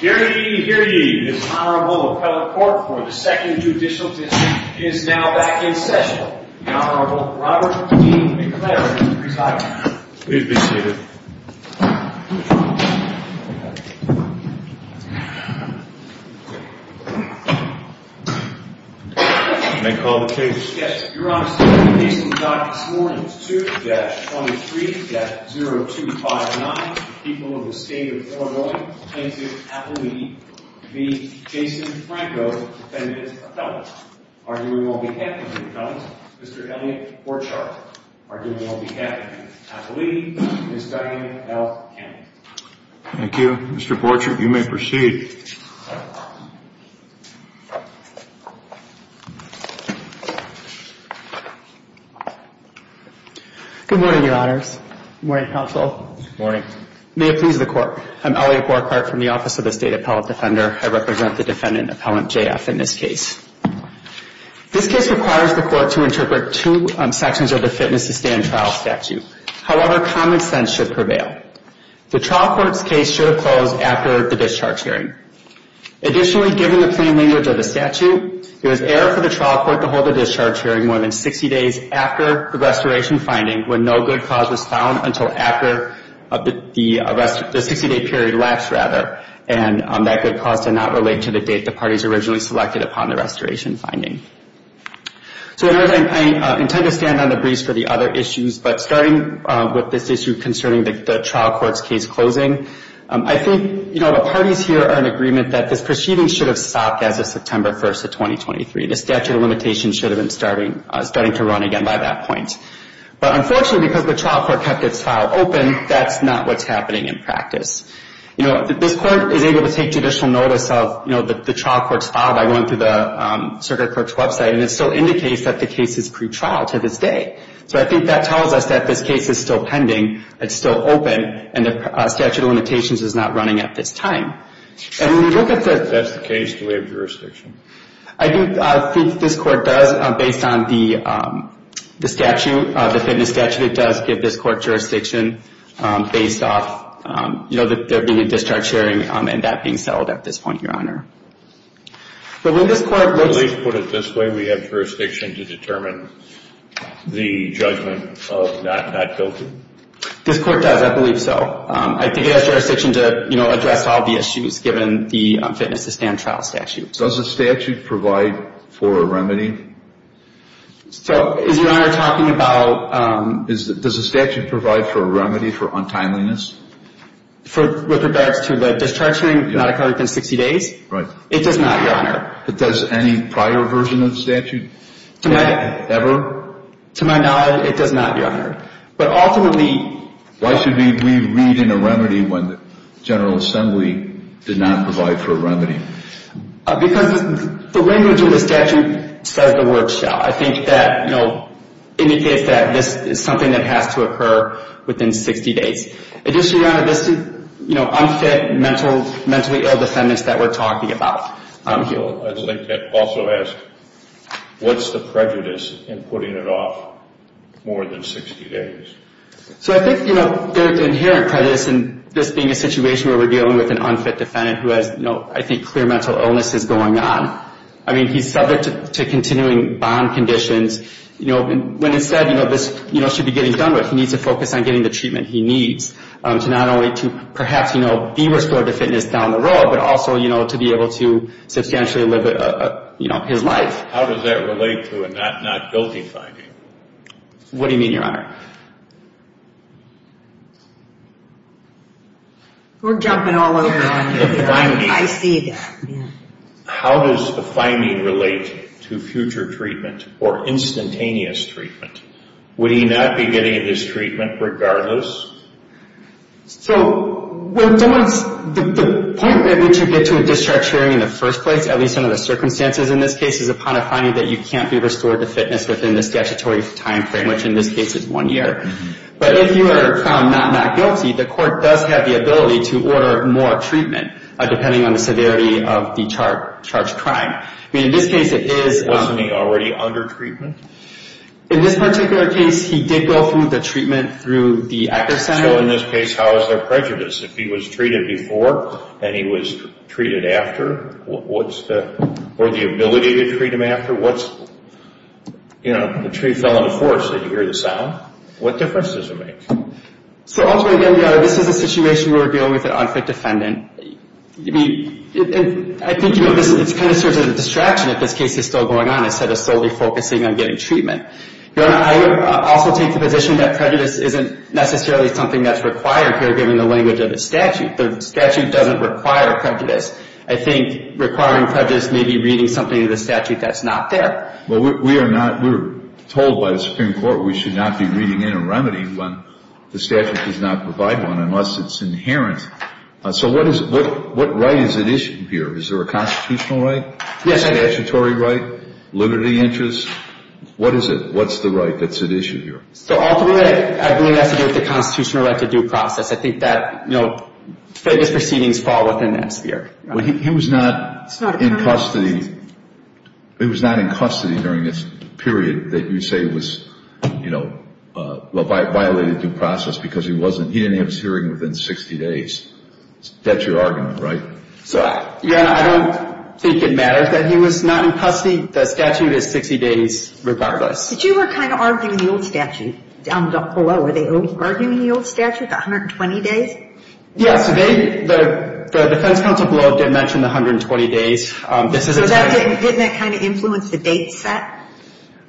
Dearly, dearly, this Honorable Appellate Court for the Second Judicial Dismissal is now back in session. The Honorable Robert E. McLeod, please rise. Please be seated. May I call the case? Yes, Your Honor. The case we've got this morning is 2-23-0259, the people of the State of Illinois plaintiff, Appellee v. Jason Franco, defendant of felons. Arguing on behalf of the felons, Mr. Elliot Borchardt. Arguing on behalf of Ms. Appellee, Ms. Diane L. Campbell. Thank you. Mr. Borchardt, you may proceed. Good morning. May it please the Court. I'm Elliot Borchardt from the Office of the State Appellate Defender. I represent the defendant, Appellant J.F. in this case. This case requires the Court to interpret two sections of the fitness to stay in trial statute. However, common sense should prevail. The trial court's case should have closed after the discharge hearing. Additionally, given the plain language of the statute, it was error for the trial court to hold the discharge hearing more than 60 days after the restoration finding when no good cause was found until after the 60-day period lapsed, rather, and that good cause did not relate to the date the parties originally selected upon the restoration finding. So, in order, I intend to stand on the briefs for the other issues, but starting with this issue concerning the trial court's case closing, I think, you know, the parties here are in agreement that this proceeding should have stopped as of September 1st of 2023. The statute of limitations should have been starting to run again by that point. But, unfortunately, because the trial court kept its file open, that's not what's happening in practice. You know, this Court is able to take judicial notice of, you know, the trial court's file by going through the circuit court's website, and it still indicates that the case is pretrial to this day. So I think that tells us that this case is still pending, it's still open, and the statute of limitations is not running at this time. And when you look at the... That's the case, the way of jurisdiction. I think this Court does, based on the statute, the fitness statute, it does give this Court jurisdiction based off, you know, there being a discharge hearing and that being settled at this point, Your Honor. But when this Court... At least put it this way, we have jurisdiction to determine the judgment of not guilty? This Court does, I believe so. I think it has jurisdiction to, you know, address all the issues, given the fitness to stand trial statute. Does the statute provide for a remedy? So is Your Honor talking about... Does the statute provide for a remedy for untimeliness? With regards to the discharge hearing not occurring within 60 days? Right. It does not, Your Honor. But does any prior version of the statute ever? To my knowledge, it does not, Your Honor. But ultimately... Why should we read in a remedy when the General Assembly did not provide for a remedy? Because the language of the statute says the word shall. I think that, you know, indicates that this is something that has to occur within 60 days. Additionally, Your Honor, this is, you know, unfit mentally ill defendants that we're talking about. I'd like to also ask, what's the prejudice in putting it off more than 60 days? So I think, you know, there's inherent prejudice in this being a situation where we're dealing with an unfit defendant who has, you know, I think clear mental illnesses going on. I mean, he's subject to continuing bond conditions. You know, when instead, you know, this, you know, should be getting done with, he needs to focus on getting the treatment he needs to not only to perhaps, you know, be restored to fitness down the road, but also, you know, to be able to substantially live, you know, his life. How does that relate to a not guilty finding? What do you mean, Your Honor? We're jumping all over it. I see that. How does the finding relate to future treatment or instantaneous treatment? Would he not be getting this treatment regardless? So the point at which you get to a discharge hearing in the first place, at least under the circumstances in this case, is upon a finding that you can't be restored to fitness within the statutory timeframe, which in this case is one year. But if you are found not not guilty, the court does have the ability to order more treatment depending on the severity of the charged crime. I mean, in this case, it is. Wasn't he already under treatment? In this particular case, he did go through the treatment through the Acker Center. So in this case, how is there prejudice? If he was treated before and he was treated after, what's the ability to treat him after? What's, you know, the tree fell in the forest, did you hear the sound? What difference does it make? So ultimately, Your Honor, this is a situation where we're dealing with an unfit defendant. I mean, I think, you know, this kind of serves as a distraction if this case is still going on instead of solely focusing on getting treatment. Your Honor, I would also take the position that prejudice isn't necessarily something that's required here, given the language of the statute. The statute doesn't require prejudice. I think requiring prejudice may be reading something in the statute that's not there. Well, we are told by the Supreme Court we should not be reading in a remedy when the statute does not provide one unless it's inherent. So what right is at issue here? Is there a constitutional right? Yes, I do. Statutory right? Liberty interest? What is it? What's the right that's at issue here? So ultimately, I believe it has to do with the constitutional right to due process. I think that, you know, famous proceedings fall within that sphere. He was not in custody. It was not in custody during this period that you say was, you know, violated due process because he didn't have his hearing within 60 days. That's your argument, right? Your Honor, I don't think it matters that he was not in custody. The statute is 60 days regardless. But you were kind of arguing the old statute down below. Were they arguing the old statute, the 120 days? Yes. The defense counsel below did mention the 120 days. So didn't that kind of influence the date set?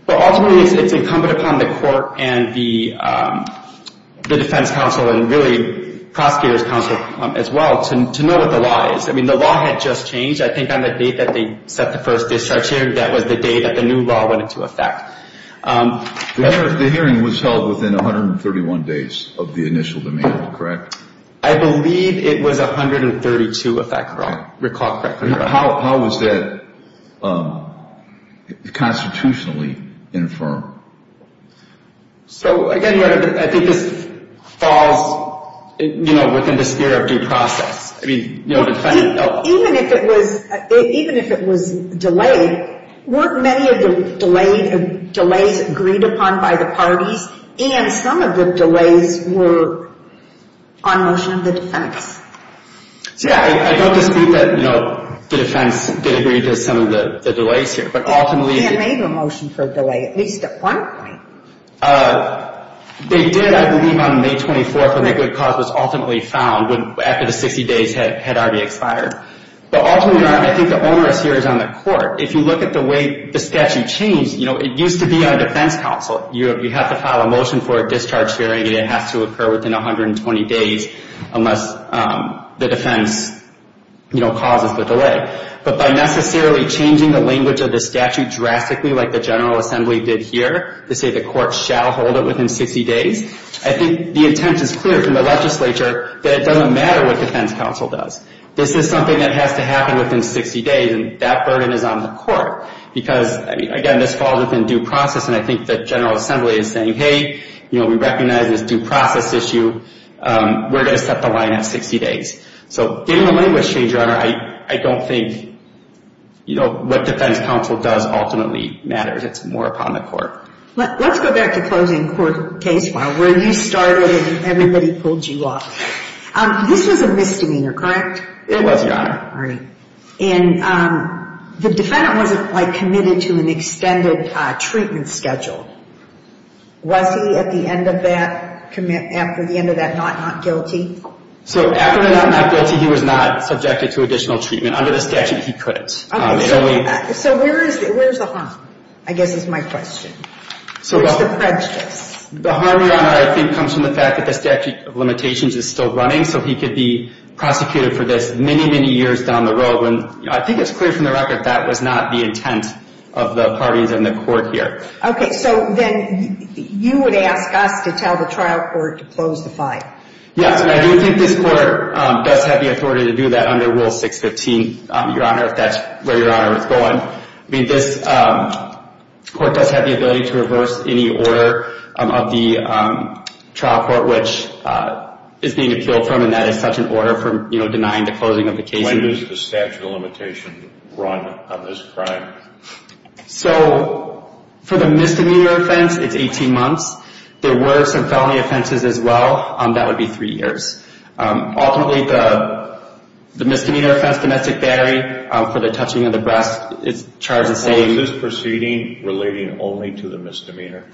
Well, ultimately, it's incumbent upon the court and the defense counsel and really prosecutor's counsel as well to know what the law is. I mean, the law had just changed. I think on the date that they set the first discharge here, that was the day that the new law went into effect. The hearing was held within 131 days of the initial demand, correct? I believe it was 132, if I recall correctly. How was that constitutionally infirmed? So, again, I think this falls, you know, within the sphere of due process. Even if it was delayed, weren't many of the delays agreed upon by the parties? And some of the delays were on motion of the defense. So, yeah, I don't dispute that, you know, the defense did agree to some of the delays here. And made a motion for a delay, at least at one point. They did, I believe, on May 24th, when that good cause was ultimately found after the 60 days had already expired. But ultimately, I think the onerous here is on the court. If you look at the way the statute changed, you know, it used to be on defense counsel. You have to file a motion for a discharge hearing, and it has to occur within 120 days unless the defense, you know, causes the delay. But by necessarily changing the language of the statute drastically, like the General Assembly did here, to say the court shall hold it within 60 days, I think the intent is clear from the legislature that it doesn't matter what defense counsel does. This is something that has to happen within 60 days, and that burden is on the court. Because, I mean, again, this falls within due process, and I think the General Assembly is saying, hey, you know, we recognize this due process issue. We're going to set the line at 60 days. So, given the language change, Your Honor, I don't think, you know, what defense counsel does ultimately matters. It's more upon the court. Let's go back to closing court case file, where you started and everybody pulled you off. This was a misdemeanor, correct? It was, Your Honor. All right. And the defendant wasn't, like, committed to an extended treatment schedule. Was he, at the end of that, after the end of that, not not guilty? So after the not not guilty, he was not subjected to additional treatment. Under the statute, he couldn't. Okay. So where is the harm, I guess, is my question. Where is the prejudice? The harm, Your Honor, I think comes from the fact that the statute of limitations is still running, so he could be prosecuted for this many, many years down the road. I think it's clear from the record that was not the intent of the parties in the court here. Okay. So then you would ask us to tell the trial court to close the file. Yes, and I do think this court does have the authority to do that under Rule 615, Your Honor, if that's where Your Honor is going. I mean, this court does have the ability to reverse any order of the trial court which is being appealed from, and that is such an order for, you know, denying the closing of the case. When does the statute of limitations run on this crime? So for the misdemeanor offense, it's 18 months. There were some felony offenses as well. That would be three years. Ultimately, the misdemeanor offense domestic battery for the touching of the breast is charged the same. Was this proceeding relating only to the misdemeanor?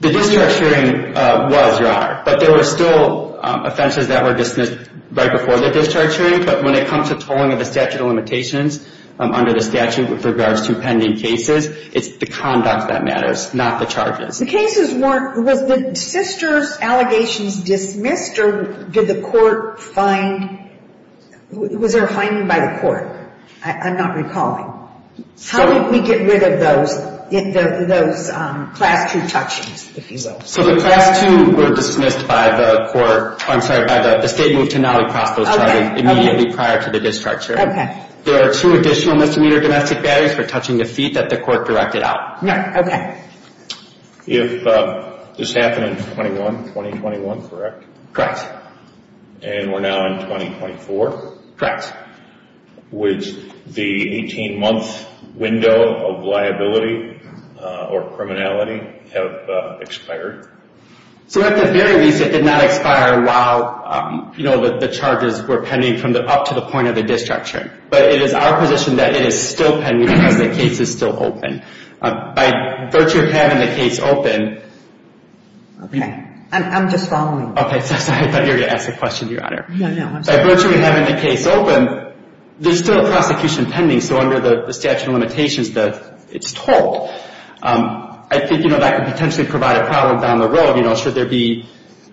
The discharge hearing was, Your Honor, but there were still offenses that were dismissed right before the discharge hearing, but when it comes to tolling of the statute of limitations under the statute with regards to pending cases, it's the conduct that matters, not the charges. The cases weren't, was the sister's allegations dismissed or did the court find, was there a finding by the court? I'm not recalling. How did we get rid of those, those Class 2 touchings, if you will? So the Class 2 were dismissed by the court, I'm sorry, by the state move to now cross those charges immediately prior to the discharge hearing. Okay. There are two additional misdemeanor domestic batteries for touching the feet that the court directed out. Okay. If this happened in 21, 2021, correct? Correct. And we're now in 2024? Correct. Would the 18-month window of liability or criminality have expired? So at the very least, it did not expire while, you know, the charges were pending from up to the point of the discharge hearing, but it is our position that it is still pending because the case is still open. By virtue of having the case open. Okay. I'm just following. Okay. I thought you were going to ask a question, Your Honor. No, no. By virtue of having the case open, there's still a prosecution pending, so under the statute of limitations, it's told. I think, you know, that could potentially provide a problem down the road. You know, should there be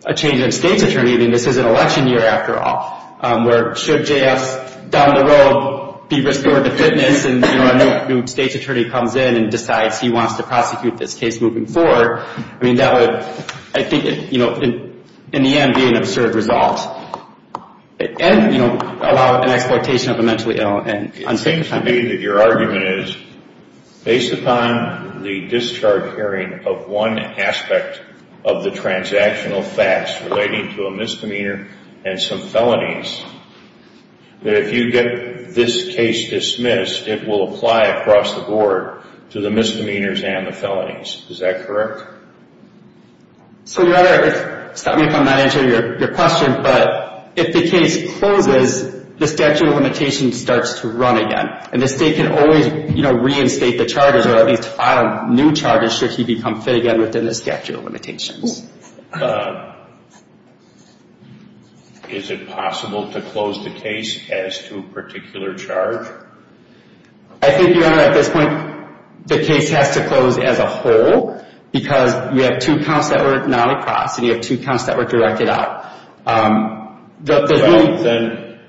a change in a state's attorney, I mean, this is an election year after all, where should J.F. down the road be restored to fitness and, you know, a new state's attorney comes in and decides he wants to prosecute this case moving forward. I mean, that would, I think, you know, in the end be an absurd result. And, you know, allow an exploitation of a mentally ill and unsafe. It seems to me that your argument is, based upon the discharge hearing of one aspect of the transactional facts relating to a misdemeanor and some felonies, that if you get this case dismissed, it will apply across the board to the misdemeanors and the felonies. Is that correct? So, Your Honor, stop me if I'm not answering your question, but if the case closes, the statute of limitations starts to run again. And the state can always, you know, reinstate the charges or at least file new charges should he become fit again within the statute of limitations. Is it possible to close the case as to a particular charge? I think, Your Honor, at this point, the case has to close as a whole because you have two counts that were not across and you have two counts that were directed out. Well, then,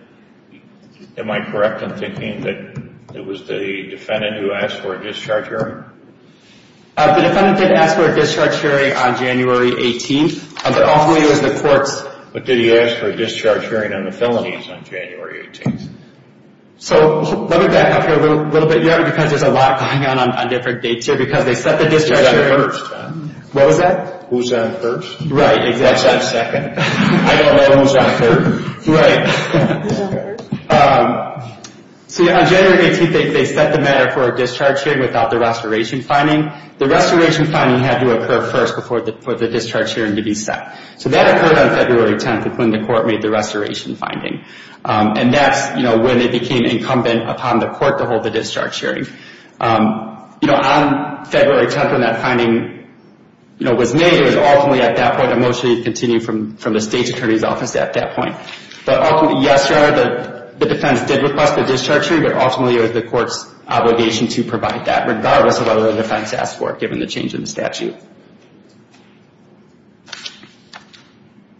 am I correct in thinking that it was the defendant who asked for a discharge hearing? The defendant did ask for a discharge hearing on January 18th, but ultimately it was the court's... But did he ask for a discharge hearing on the felonies on January 18th? So, let me back up here a little bit, Your Honor, because there's a lot going on on different dates here because they set the discharge hearing... Who's on first? What was that? Who's on first? Right, exactly. What's on second? I don't know. Who's on third? Right. Who's on first? So, on January 18th, they set the matter for a discharge hearing without the restoration finding. The restoration finding had to occur first before the discharge hearing to be set. So, that occurred on February 10th, when the court made the restoration finding, and that's when it became incumbent upon the court to hold the discharge hearing. On February 10th, when that finding was made, it was ultimately at that point, and mostly it continued from the State's Attorney's Office at that point. Yes, Your Honor, the defense did request the discharge hearing, but ultimately it was the court's obligation to provide that, regardless of whether the defense asked for it, given the change in the statute.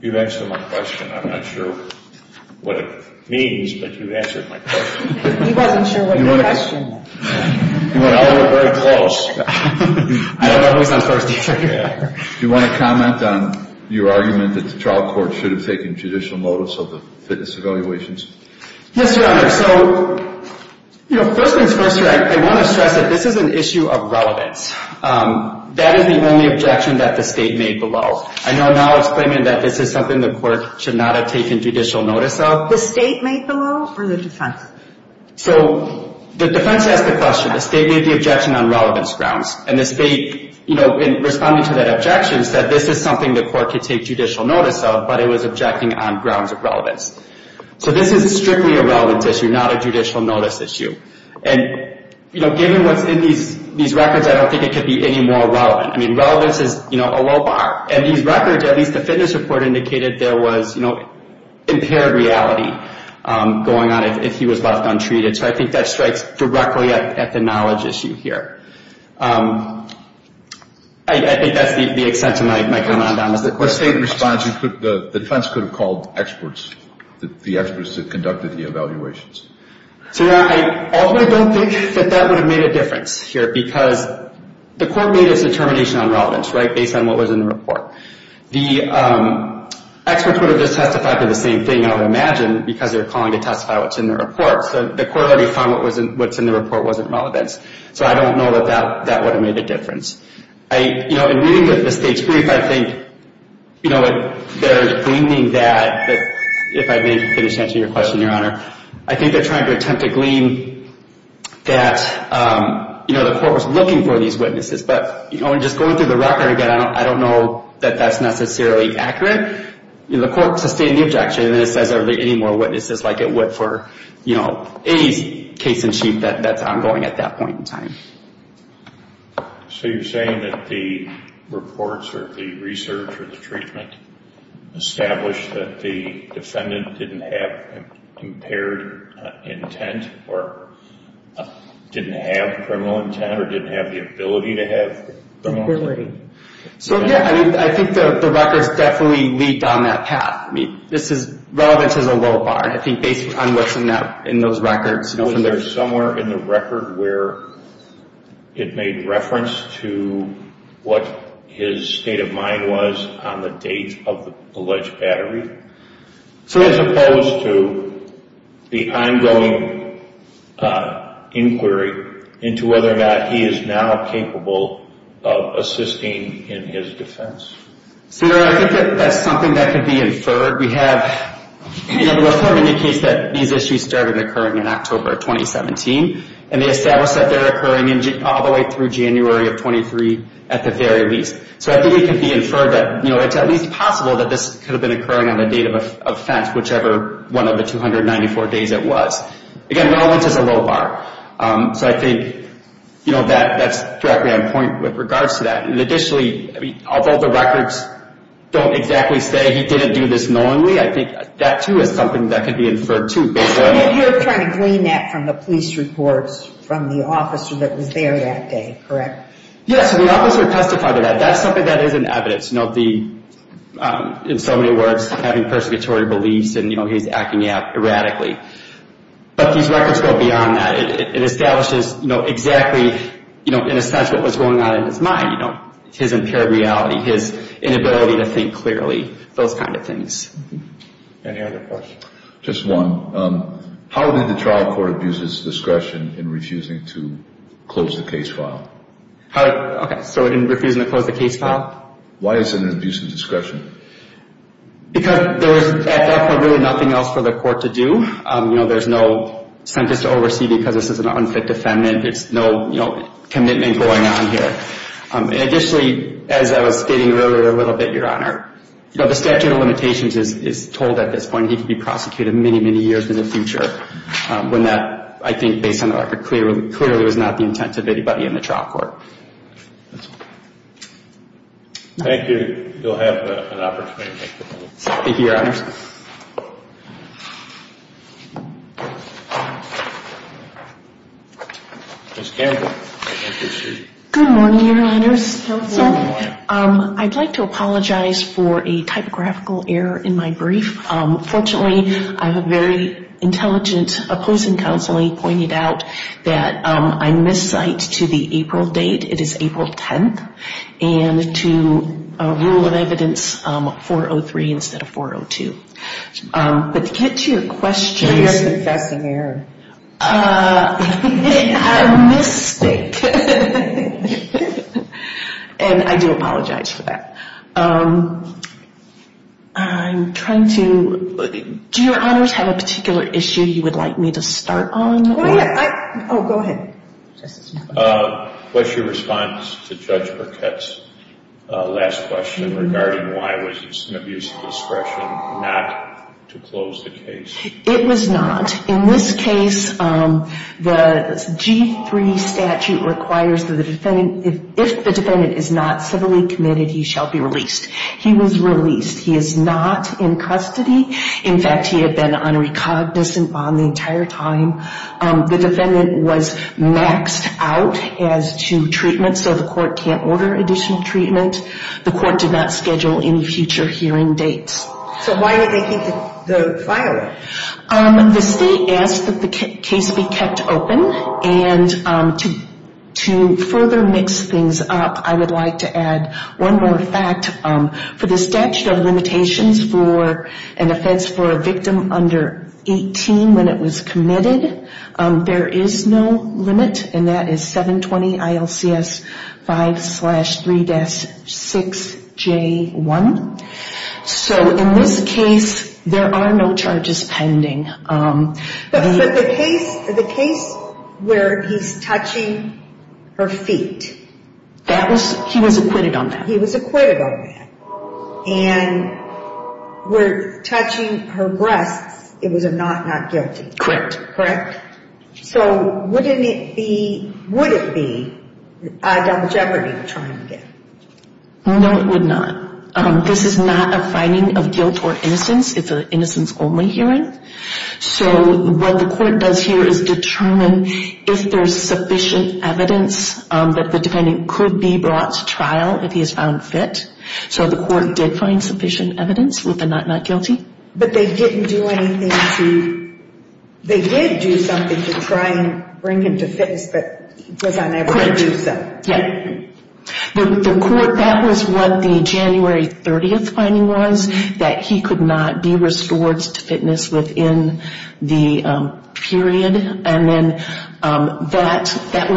You've answered my question. I'm not sure what it means, but you've answered my question. He wasn't sure what your question was. You and I were very close. I don't know who's on first either. Do you want to comment on your argument that the trial court should have taken judicial notice of the fitness evaluations? Yes, Your Honor. So, first things first, I want to stress that this is an issue of relevance. That is the only objection that the State made below. I know now it's claiming that this is something the court should not have taken judicial notice of. The State made below, or the defense? So, the defense asked the question. The State made the objection on relevance grounds, and the State, in responding to that objection, said this is something the court could take judicial notice of, but it was objecting on grounds of relevance. So, this is strictly a relevance issue, not a judicial notice issue. And, you know, given what's in these records, I don't think it could be any more relevant. I mean, relevance is, you know, a low bar. And these records, at least the fitness report indicated there was, you know, impaired reality going on if he was left untreated. So, I think that strikes directly at the knowledge issue here. I think that's the extent of my comment on this. What State response? The defense could have called experts, the experts that conducted the evaluations. So, yeah, I ultimately don't think that that would have made a difference here because the court made its determination on relevance, right, based on what was in the report. The experts would have just testified for the same thing, I would imagine, because they were calling to testify what's in the report. So, the court already found what's in the report wasn't relevance. So, I don't know that that would have made a difference. I, you know, in reading the State's brief, I think, you know, they're gleaning that, if I may finish answering your question, Your Honor, I think they're trying to attempt to glean that, you know, the court was looking for these witnesses. But, you know, just going through the record again, I don't know that that's necessarily accurate. You know, the court sustained the objection, and then it says are there any more witnesses like it would for, you know, A's case-in-chief that's ongoing at that point in time. So, you're saying that the reports or the research or the treatment established that the defendant didn't have impaired intent or didn't have criminal intent or didn't have the ability to have criminal intent? So, yeah, I think the records definitely lead down that path. I mean, relevance is a low bar. I think based on what's in those records. Was there somewhere in the record where it made reference to what his state of mind was on the date of the alleged battery as opposed to the ongoing inquiry into whether or not he is now capable of assisting in his defense? Senator, I think that's something that could be inferred. We have, you know, the report indicates that these issues started occurring in October of 2017, and they establish that they're occurring all the way through January of 23 at the very least. So, I think it could be inferred that, you know, it's at least possible that this could have been occurring on the date of offense, whichever one of the 294 days it was. Again, relevance is a low bar. So, I think, you know, that's directly on point with regards to that. Additionally, I mean, although the records don't exactly say he didn't do this knowingly, I think that, too, is something that could be inferred, too. You're trying to glean that from the police reports from the officer that was there that day, correct? Yes, the officer testified to that. That's something that is in evidence, you know, the, in so many words, having persecutory beliefs and, you know, he's acting out erratically. But these records go beyond that. It establishes, you know, exactly, you know, in a sense what was going on in his mind, you know, his impaired reality, his inability to think clearly, those kind of things. Any other questions? Just one. How did the trial court abuse his discretion in refusing to close the case file? How, okay, so in refusing to close the case file? Why is it an abuse of discretion? Because there was, at that point, really nothing else for the court to do. You know, there's no sentence to oversee because this is an unfit defendant. There's no, you know, commitment going on here. Additionally, as I was stating earlier a little bit, Your Honor, you know, the statute of limitations is told at this point he could be prosecuted many, many years in the future when that, I think, based on the record, clearly was not the intent of anybody in the trial court. Thank you. Thank you. You'll have an opportunity. Thank you, Your Honors. Ms. Campbell. Good morning, Your Honors. Good morning. I'd like to apologize for a typographical error in my brief. Fortunately, I have a very intelligent opposing counselee pointed out that I miscite to the April date. It is April 10th, and to rule of evidence 403 instead of 402. But to get to your question. You're a confessing error. I'm a mystic. And I do apologize for that. I'm trying to, do Your Honors have a particular issue you would like me to start on? Oh, yeah. Oh, go ahead. What's your response to Judge Burkett's last question regarding why was it an abuse of discretion not to close the case? It was not. In this case, the G-3 statute requires that if the defendant is not civilly committed, he shall be released. He was released. He is not in custody. In fact, he had been on a recognizant bond the entire time. The defendant was maxed out as to treatment, so the court can't order additional treatment. The court did not schedule any future hearing dates. So why did they think to fire him? The state asked that the case be kept open. And to further mix things up, I would like to add one more fact. For the statute of limitations for an offense for a victim under 18 when it was committed, there is no limit. And that is 720-ILCS-5-3-6J1. So in this case, there are no charges pending. But for the case where he's touching her feet? He was acquitted on that. And where touching her breasts, it was a not not guilty. Correct. Correct. So wouldn't it be, would it be a double jeopardy to try him again? No, it would not. This is not a finding of guilt or innocence. It's an innocence only hearing. So what the court does here is determine if there's sufficient evidence that the defendant could be brought to trial if he is found guilty. If he is found fit. So the court did find sufficient evidence with a not not guilty. But they didn't do anything to, they did do something to try and bring him to fitness, but was unable to do so. Correct. Yeah. The court, that was what the January 30th finding was, that he could not be restored to fitness within the period.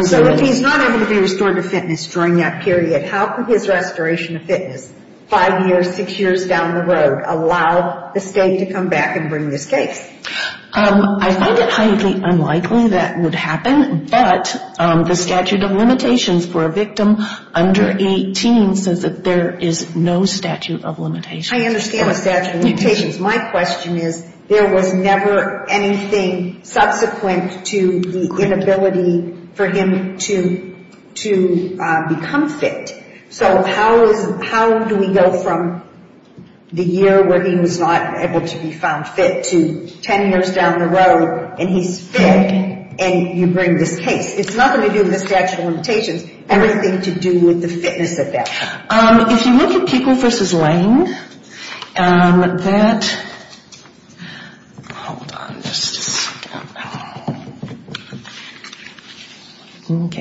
So if he's not able to be restored to fitness during that period, how could his restoration of fitness, five years, six years down the road, allow the state to come back and bring this case? I think it's highly unlikely that would happen. But the statute of limitations for a victim under 18 says that there is no statute of limitations. I understand the statute of limitations. My question is, there was never anything subsequent to the inability for him to become fit. So how do we go from the year where he was not able to be found fit to ten years down the road and he's fit and you bring this case? It's nothing to do with the statute of limitations. Everything to do with the fitness at that time. If you look at Kuechel v. Lange, that, hold on. In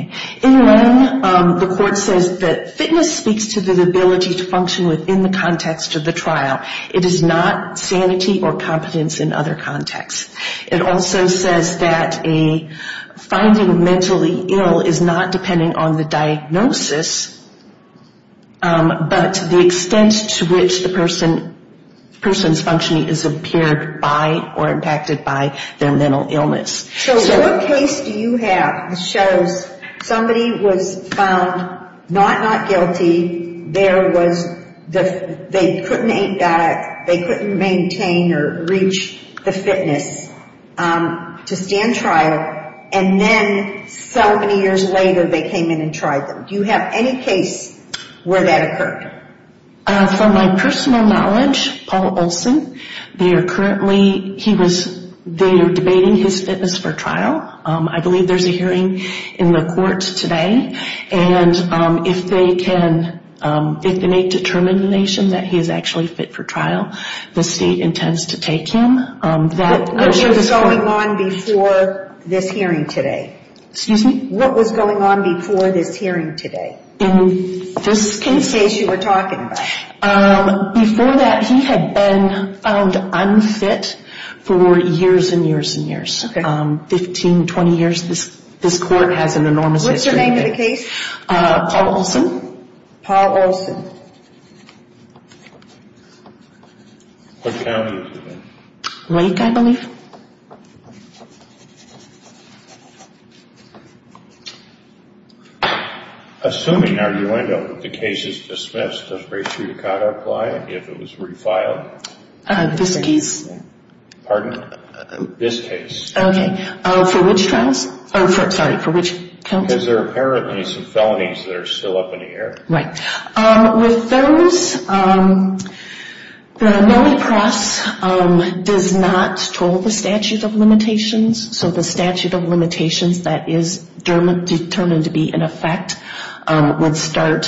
Lange, the court says that fitness speaks to the ability to function within the context of the trial. It is not sanity or competence in other contexts. It also says that finding mentally ill is not depending on the diagnosis, but the extent to which the person's functioning is impaired by or impacted by their mental illness. So what case do you have that shows somebody was found not not guilty, they couldn't maintain or reach the fitness to stand trial, and then so many years later they came in and tried them? Do you have any case where that occurred? From my personal knowledge, Paul Olson, they are currently debating his fitness for trial. I believe there's a hearing in the courts today, and if they can make determination that he is actually fit for trial, the state intends to take him. What was going on before this hearing today? Excuse me? What was going on before this hearing today? In this case. In this case you were talking about. Before that, he had been found unfit for years and years and years. Okay. 15, 20 years. This court has an enormous history. What's the name of the case? Paul Olson. Paul Olson. What county is it in? Lake, I believe. Thank you. Assuming our U.N.O. that the case is dismissed, does Rachel Yukata apply if it was refiled? This case. Pardon? This case. Okay. For which trials? Sorry, for which county? Because there are apparently some felonies that are still up in the air. Right. With those, the nullipross does not control the statute of limitations. So the statute of limitations that is determined to be in effect would start,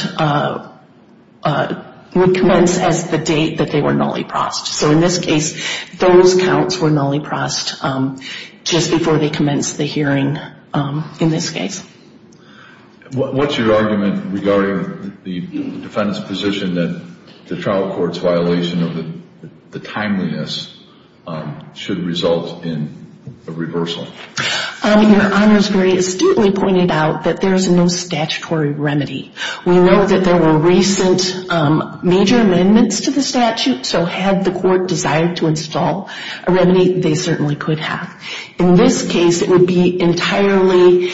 would commence as the date that they were nulliprossed. So in this case, those counts were nulliprossed just before they commenced the hearing in this case. What's your argument regarding the defendant's position that the trial court's violation of the timeliness should result in a reversal? Your Honor has very astutely pointed out that there is no statutory remedy. We know that there were recent major amendments to the statute, so had the court desired to install a remedy, they certainly could have. In this case, it would be entirely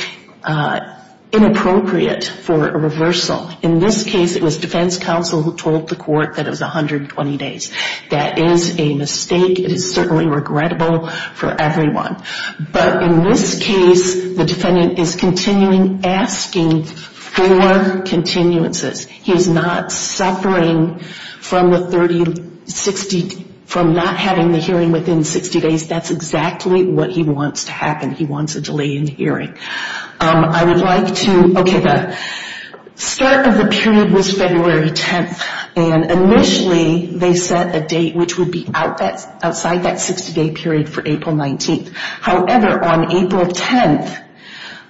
inappropriate for a reversal. In this case, it was defense counsel who told the court that it was 120 days. That is a mistake. It is certainly regrettable for everyone. But in this case, the defendant is continuing asking for continuances. He is not suffering from the 30, 60, from not having the hearing within 60 days. That's exactly what he wants to happen. He wants a delay in hearing. I would like to, okay, the start of the period was February 10th, and initially they set a date which would be outside that 60-day period for April 19th. However, on April 10th,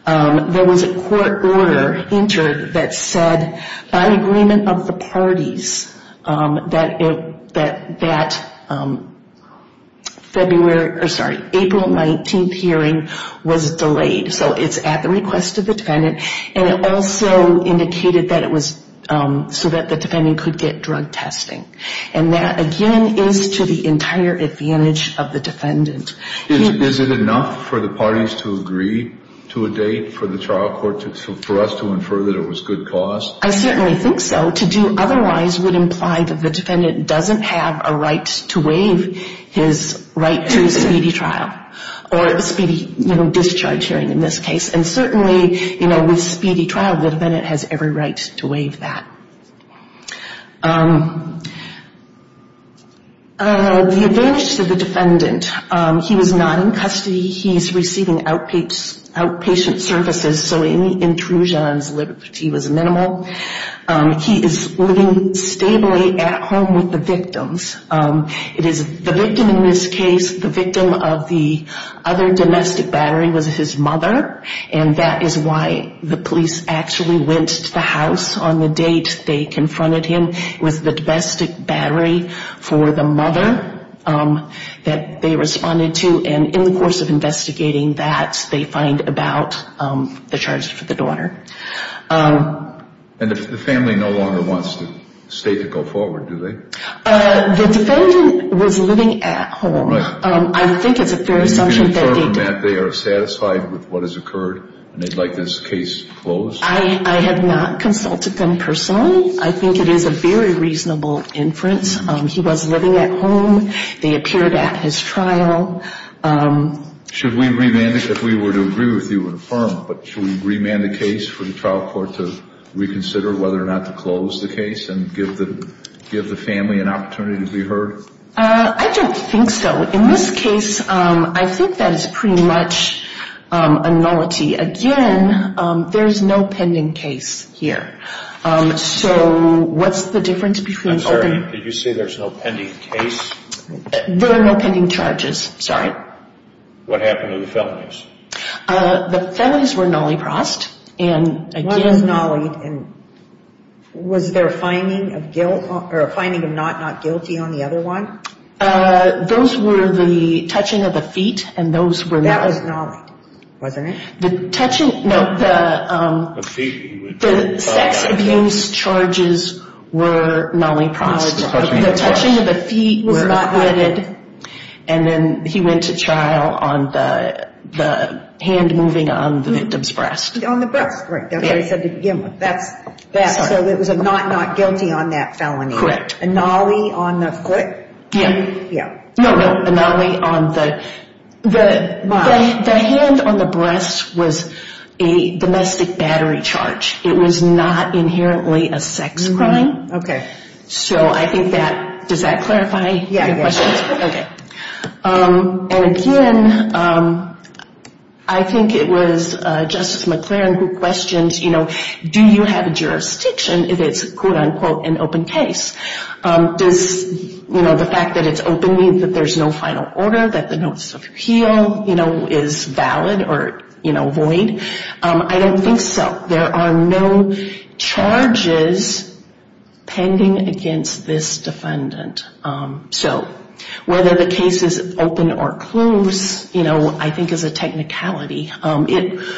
there was a court order entered that said, by agreement of the parties, that April 19th hearing was delayed. So it's at the request of the defendant. And it also indicated that it was so that the defendant could get drug testing. And that, again, is to the entire advantage of the defendant. Is it enough for the parties to agree to a date for the trial court for us to infer that it was good cause? I certainly think so. To do otherwise would imply that the defendant doesn't have a right to waive his right to a speedy trial, or a speedy, you know, discharge hearing in this case. And certainly, you know, with speedy trial, the defendant has every right to waive that. The advantage to the defendant, he was not in custody. He's receiving outpatient services, so any intrusion on his liberty was minimal. He is living stably at home with the victims. It is the victim in this case, the victim of the other domestic battery, was his mother. And that is why the police actually went to the house on the date they confronted him. It was the domestic battery for the mother that they responded to. And in the course of investigating that, they find about the charge for the daughter. And the family no longer wants the state to go forward, do they? The defendant was living at home. I think it's a fair assumption that they did. Do you infer from that they are satisfied with what has occurred and they'd like this case closed? I have not consulted them personally. I think it is a very reasonable inference. He was living at home. They appeared at his trial. Should we remand it if we were to agree with you and affirm? But should we remand the case for the trial court to reconsider whether or not to close the case and give the family an opportunity to be heard? I don't think so. In this case, I think that is pretty much a nullity. Again, there is no pending case here. I'm sorry, did you say there is no pending case? There are no pending charges, sorry. What happened to the felonies? The felonies were nollie-prossed. What is nollie? Was there a finding of not guilty on the other one? Those were the touching of the feet and those were nollie. That was nollie, wasn't it? The touching, no, the sex abuse charges were nollie-prossed. The touching of the feet was not committed. And then he went to trial on the hand moving on the victim's breast. On the breast, right, that's what he said to begin with. So it was a not not guilty on that felony. Correct. A nollie on the foot? Yeah. No, no, a nollie on the... The hand on the breast was a domestic battery charge. It was not inherently a sex crime. Okay. So I think that, does that clarify your questions? Yeah, yeah. Okay. And again, I think it was Justice McLaren who questioned, you know, do you have a jurisdiction if it's, quote, unquote, an open case? Does, you know, the fact that it's open mean that there's no final order, that the notice of appeal, you know, is valid or, you know, void? I don't think so. There are no charges pending against this defendant. So whether the case is open or closed, you know, I think is a technicality. It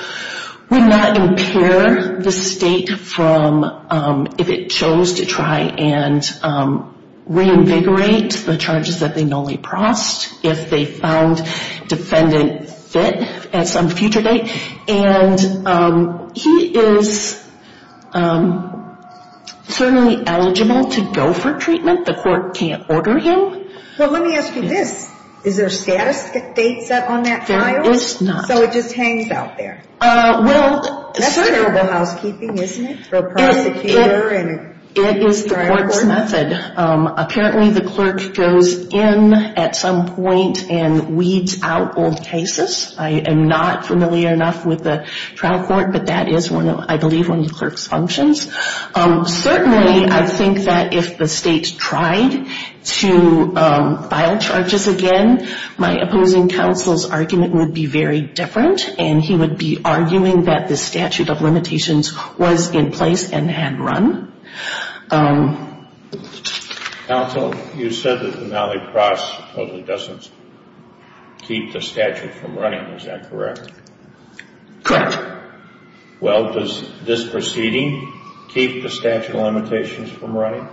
would not impair the state from if it chose to try and reinvigorate the case if they found defendant fit at some future date. And he is certainly eligible to go for treatment. The court can't order him. But let me ask you this. Is there a status date set on that file? There is not. So it just hangs out there? Well, certainly. That's terrible housekeeping, isn't it, for a prosecutor and a trial court? It is the court's method. Apparently the clerk goes in at some point and weeds out old cases. I am not familiar enough with the trial court, but that is, I believe, one of the clerk's functions. Certainly I think that if the state tried to file charges again, my opposing counsel's argument would be very different, and he would be arguing that the statute of limitations was in place and had run. Counsel, you said that the Nally Cross doesn't keep the statute from running. Is that correct? Correct. Well, does this proceeding keep the statute of limitations from running?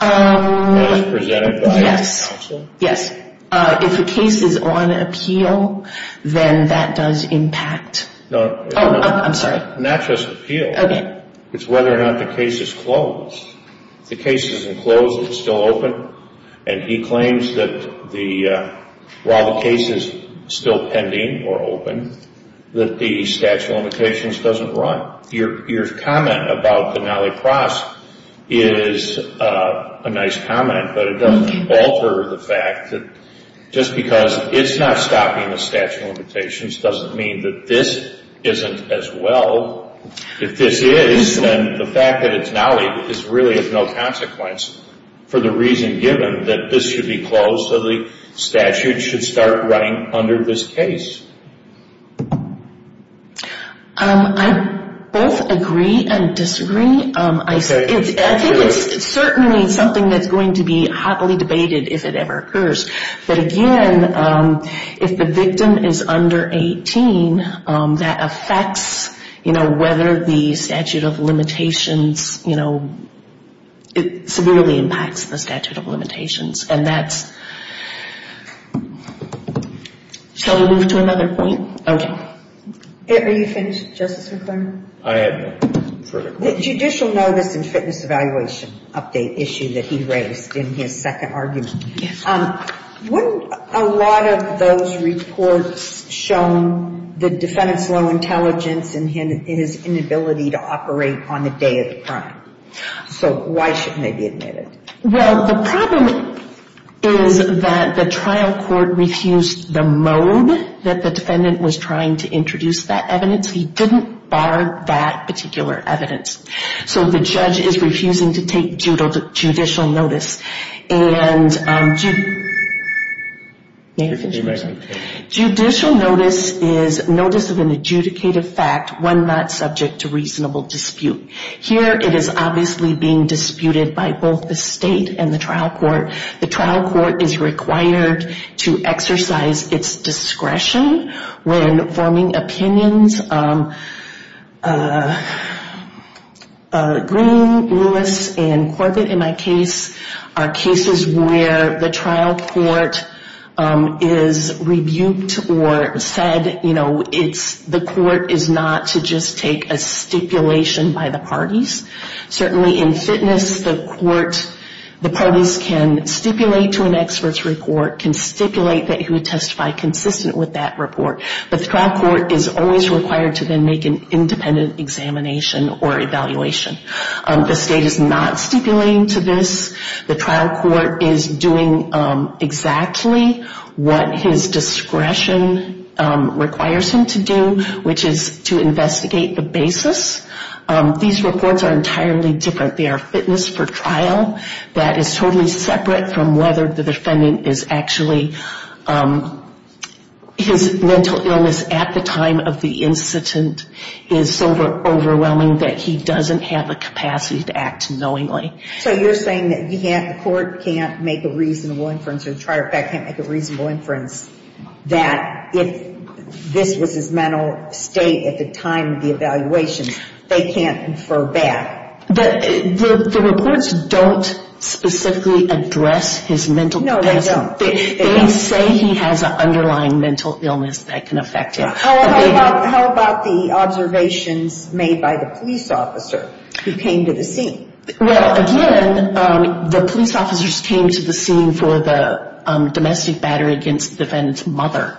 As presented by your counsel? Yes. If the case is on appeal, then that does impact? No. Oh, I'm sorry. Not just appeal. Okay. It's whether or not the case is closed. If the case isn't closed, it's still open, and he claims that while the case is still pending or open, that the statute of limitations doesn't run. Your comment about the Nally Cross is a nice comment, but it doesn't alter the fact that just because it's not stopping the statute of limitations doesn't mean that this isn't as well. If this is, then the fact that it's Nally really has no consequence for the reason given that this should be closed, so the statute should start running under this case. I both agree and disagree. I think it's certainly something that's going to be hotly debated if it ever occurs. But, again, if the victim is under 18, that affects, you know, whether the statute of limitations, you know, it severely impacts the statute of limitations. And that's ‑‑ shall we move to another point? Okay. Are you finished, Justice McClaren? I am. The judicial notice and fitness evaluation update issue that he raised in his second argument. Yes. Wouldn't a lot of those reports show the defendant's low intelligence and his inability to operate on the day of the crime? So why shouldn't they be admitted? Well, the problem is that the trial court refused the mode that the defendant was trying to introduce that evidence. He didn't bar that particular evidence. So the judge is refusing to take judicial notice. And judicial notice is notice of an adjudicated fact when not subject to reasonable dispute. Here it is obviously being disputed by both the state and the trial court. The trial court is required to exercise its discretion when forming opinions. Green, Lewis, and Corbett, in my case, are cases where the trial court is rebuked or said, you know, the court is not to just take a stipulation by the parties. Certainly in fitness, the court, the parties can stipulate to an experts report, can stipulate that he would testify consistent with that report. But the trial court is always required to then make an independent examination or evaluation. The state is not stipulating to this. The trial court is doing exactly what his discretion requires him to do, which is to investigate the basis. These reports are entirely different. They are fitness for trial. That is totally separate from whether the defendant is actually, his mental illness at the time of the incident is so overwhelming that he doesn't have the capacity to act knowingly. So you're saying that the court can't make a reasonable inference or the trial court can't make a reasonable inference that if this was his mental state at the time of the evaluation, they can't confer back. The reports don't specifically address his mental condition. No, they don't. They say he has an underlying mental illness that can affect him. How about the observations made by the police officer who came to the scene? Well, again, the police officers came to the scene for the domestic battery against the defendant's mother.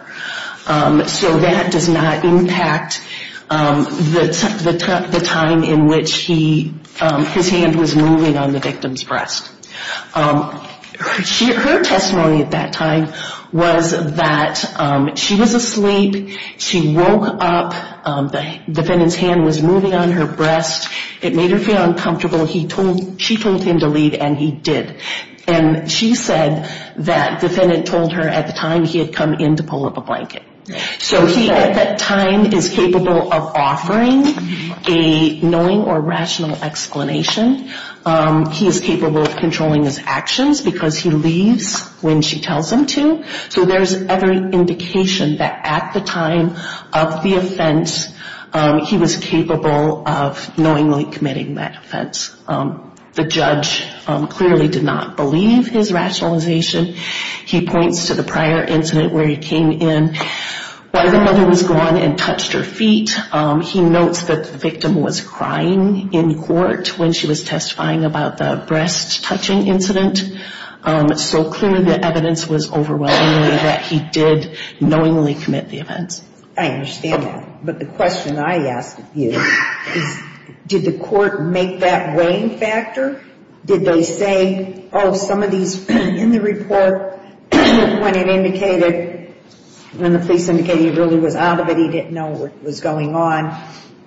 So that does not impact the time in which his hand was moving on the victim's breast. Her testimony at that time was that she was asleep, she woke up, the defendant's hand was moving on her breast. It made her feel uncomfortable. She told him to leave, and he did. And she said that defendant told her at the time he had come in to pull up a blanket. So he at that time is capable of offering a knowing or rational explanation. He is capable of controlling his actions because he leaves when she tells him to. So there's every indication that at the time of the offense, he was capable of knowingly committing that offense. The judge clearly did not believe his rationalization. He points to the prior incident where he came in. While the mother was gone and touched her feet, he notes that the victim was crying in court when she was testifying about the breast-touching incident. So clearly the evidence was overwhelming that he did knowingly commit the offense. I understand that. But the question I ask of you is did the court make that weighing factor? Did they say, oh, some of these in the report when it indicated, when the police indicated he really was out of it, he didn't know what was going on,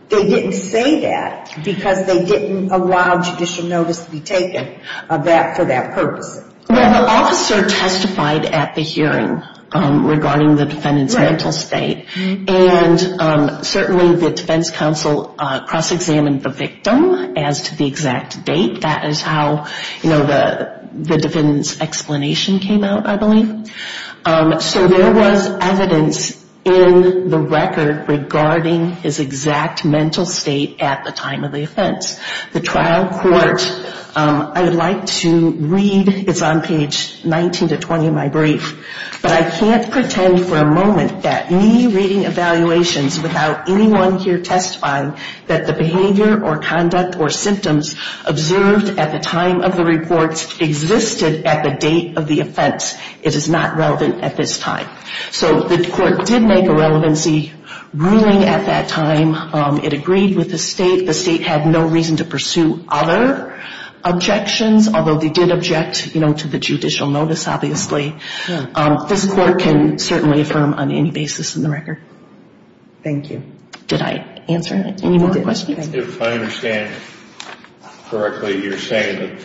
they didn't say that because they didn't allow judicial notice to be taken for that purpose? Well, the officer testified at the hearing regarding the defendant's mental state. And certainly the defense counsel cross-examined the victim as to the exact date. That is how, you know, the defendant's explanation came out, I believe. So there was evidence in the record regarding his exact mental state at the time of the offense. The trial court, I would like to read, it's on page 19 to 20 of my brief, but I can't pretend for a moment that me reading evaluations without anyone here testifying that the behavior or conduct or symptoms observed at the time of the reports existed at the date of the offense. It is not relevant at this time. So the court did make a relevancy ruling at that time. It agreed with the state. The state had no reason to pursue other objections, although they did object, you know, to the judicial notice, obviously. This court can certainly affirm on any basis in the record. Thank you. Did I answer any more questions? If I understand correctly, you're saying that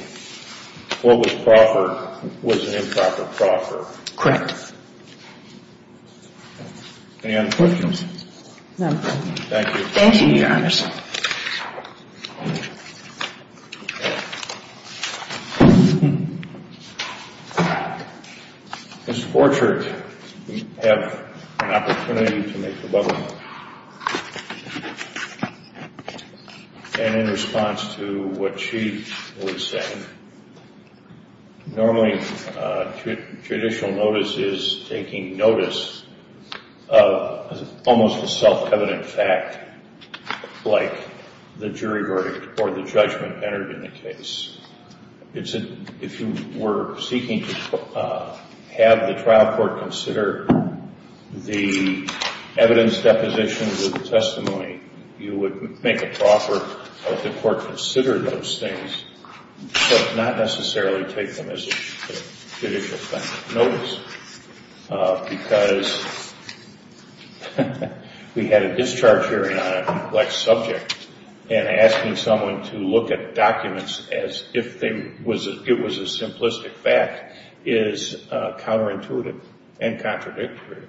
what was proper was an improper proffer. Correct. Any other questions? No. Thank you. Thank you, Your Honors. Mr. Forchert, you have an opportunity to make a button. And in response to what she was saying, normally judicial notice is taking notice of almost a self-evident fact, like the jury verdict or the judgment entered in the case. If you were seeking to have the trial court consider the evidence depositions or the testimony, you would make a proffer, have the court consider those things, but not necessarily take them as a judicial thing. Because we had a discharge hearing on a complex subject, and asking someone to look at documents as if it was a simplistic fact is counterintuitive and contradictory.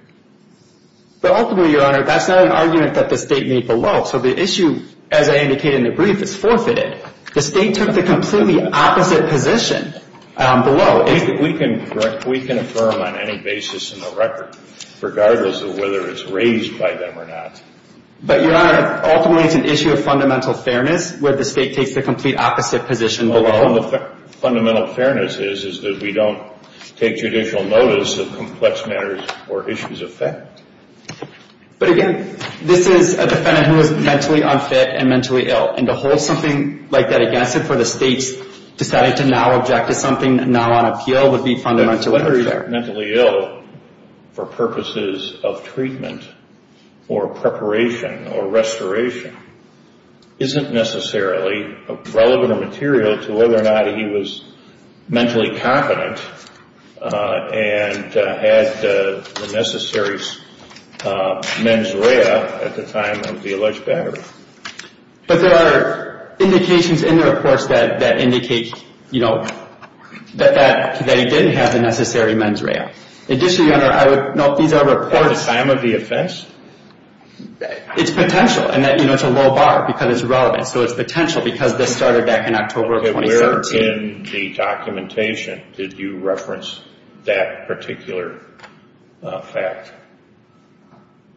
But ultimately, Your Honor, that's not an argument that the state made below. So the issue, as I indicated in the brief, is forfeited. The state took the completely opposite position below. We can affirm on any basis in the record, regardless of whether it's raised by them or not. But, Your Honor, ultimately it's an issue of fundamental fairness, where the state takes the complete opposite position below. Fundamental fairness is that we don't take judicial notice of complex matters or issues of fact. But, again, this is a defendant who is mentally unfit and mentally ill. And to hold something like that against him for the state's deciding to now object to something now on appeal would be fundamentally unfair. Whether he's mentally ill for purposes of treatment or preparation or restoration isn't necessarily relevant or material to whether or not he was mentally confident and had the necessary mens rea at the time of the alleged battery. But there are indications in the reports that indicate that he didn't have the necessary mens rea. Additionally, Your Honor, I would note these are reports... At the time of the offense? It's potential, and it's a low bar because it's relevant. So it's potential because this started back in October of 2017. Okay, where in the documentation did you reference that particular fact?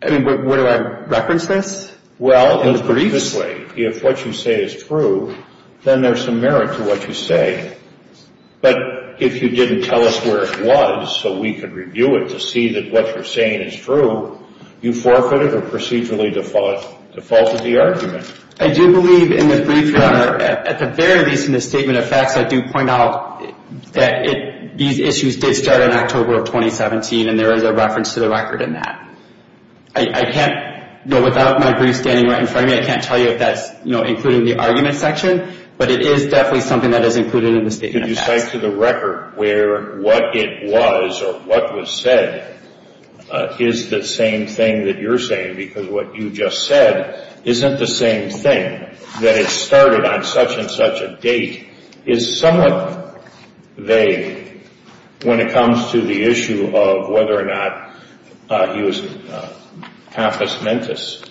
I mean, where do I reference this? Well, obviously, if what you say is true, then there's some merit to what you say. But if you didn't tell us where it was so we could review it to see that what you're saying is true, you forfeited or procedurally defaulted the argument. I do believe in the brief, Your Honor, at the very least in the statement of facts, I do point out that these issues did start in October of 2017, and there is a reference to the record in that. I can't, without my brief standing right in front of me, I can't tell you if that's, you know, including the argument section, but it is definitely something that is included in the statement of facts. Did you cite to the record where what it was or what was said is the same thing that you're saying because what you just said isn't the same thing, that it started on such and such a date, is somewhat vague when it comes to the issue of whether or not he was compass mentis.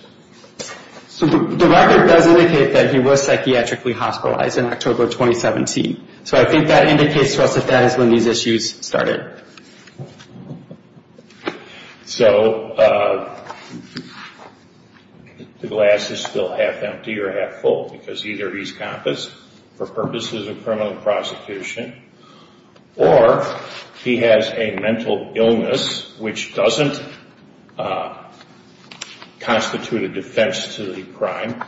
So the record does indicate that he was psychiatrically hospitalized in October of 2017. So I think that indicates to us that that is when these issues started. So the glass is still half empty or half full because either he's compass for purposes of criminal prosecution or he has a mental illness which doesn't constitute a defense to the crime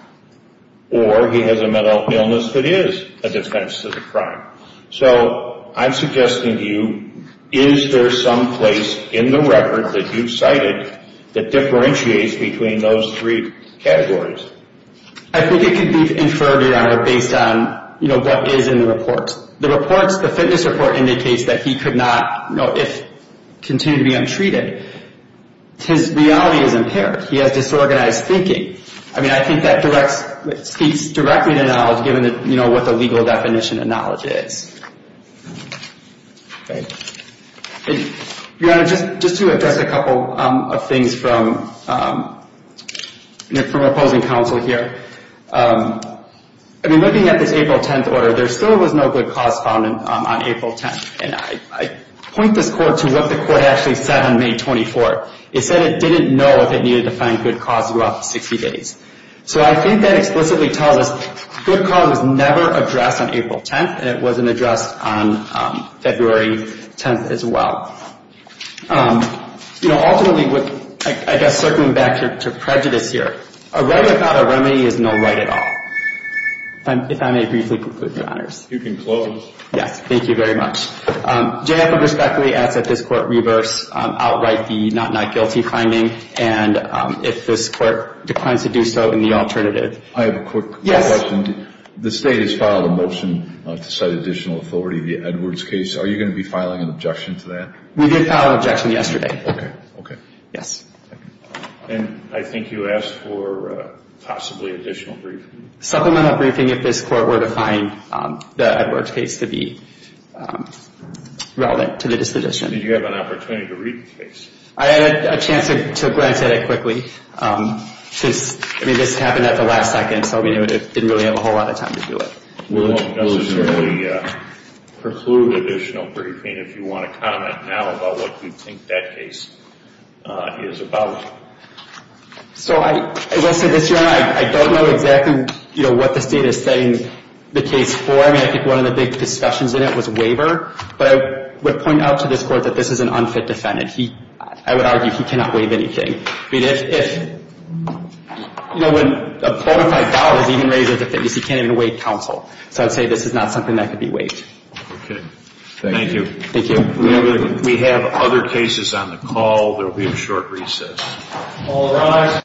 or he has a mental illness that is a defense to the crime. So I'm suggesting to you, is there some place in the record that you've cited that differentiates between those three categories? I think it could be inferred or based on, you know, what is in the reports. The reports, the fitness report indicates that he could not, you know, continue to be untreated. His reality is impaired. He has disorganized thinking. I mean, I think that speaks directly to knowledge given, you know, what the legal definition of knowledge is. Just to address a couple of things from opposing counsel here. I mean, looking at this April 10th order, there still was no good cause found on April 10th. And I point this court to what the court actually said on May 24th. It said it didn't know if it needed to find good cause throughout the 60 days. So I think that explicitly tells us good cause was never addressed on April 10th and it wasn't addressed on February 10th as well. You know, ultimately, I guess, circling back to prejudice here. A right without a remedy is no right at all. If I may briefly conclude, Your Honors. You can close. Yes, thank you very much. J.F. will respectfully ask that this court reverse outright the not not guilty finding and if this court declines to do so in the alternative. I have a quick question. Yes. The state has filed a motion to cite additional authority in the Edwards case. Are you going to be filing an objection to that? We did file an objection yesterday. Okay. Okay. Yes. And I think you asked for possibly additional briefing. Supplemental briefing if this court were to find the Edwards case to be relevant to the disposition. Did you have an opportunity to read the case? I had a chance to glance at it quickly. I mean, this happened at the last second, so we didn't really have a whole lot of time to do it. We won't necessarily preclude additional briefing if you want to comment now about what you think that case is about. So as I said this morning, I don't know exactly, you know, what the state is saying the case for. I mean, I think one of the big discussions in it was waiver. But I would point out to this court that this is an unfit defendant. I would argue he cannot waive anything. I mean, if, you know, when a bona fide dollar is even raised as a fitness, he can't even waive counsel. So I would say this is not something that could be waived. Okay. Thank you. Thank you. We have other cases on the call. There will be a short recess. All rise.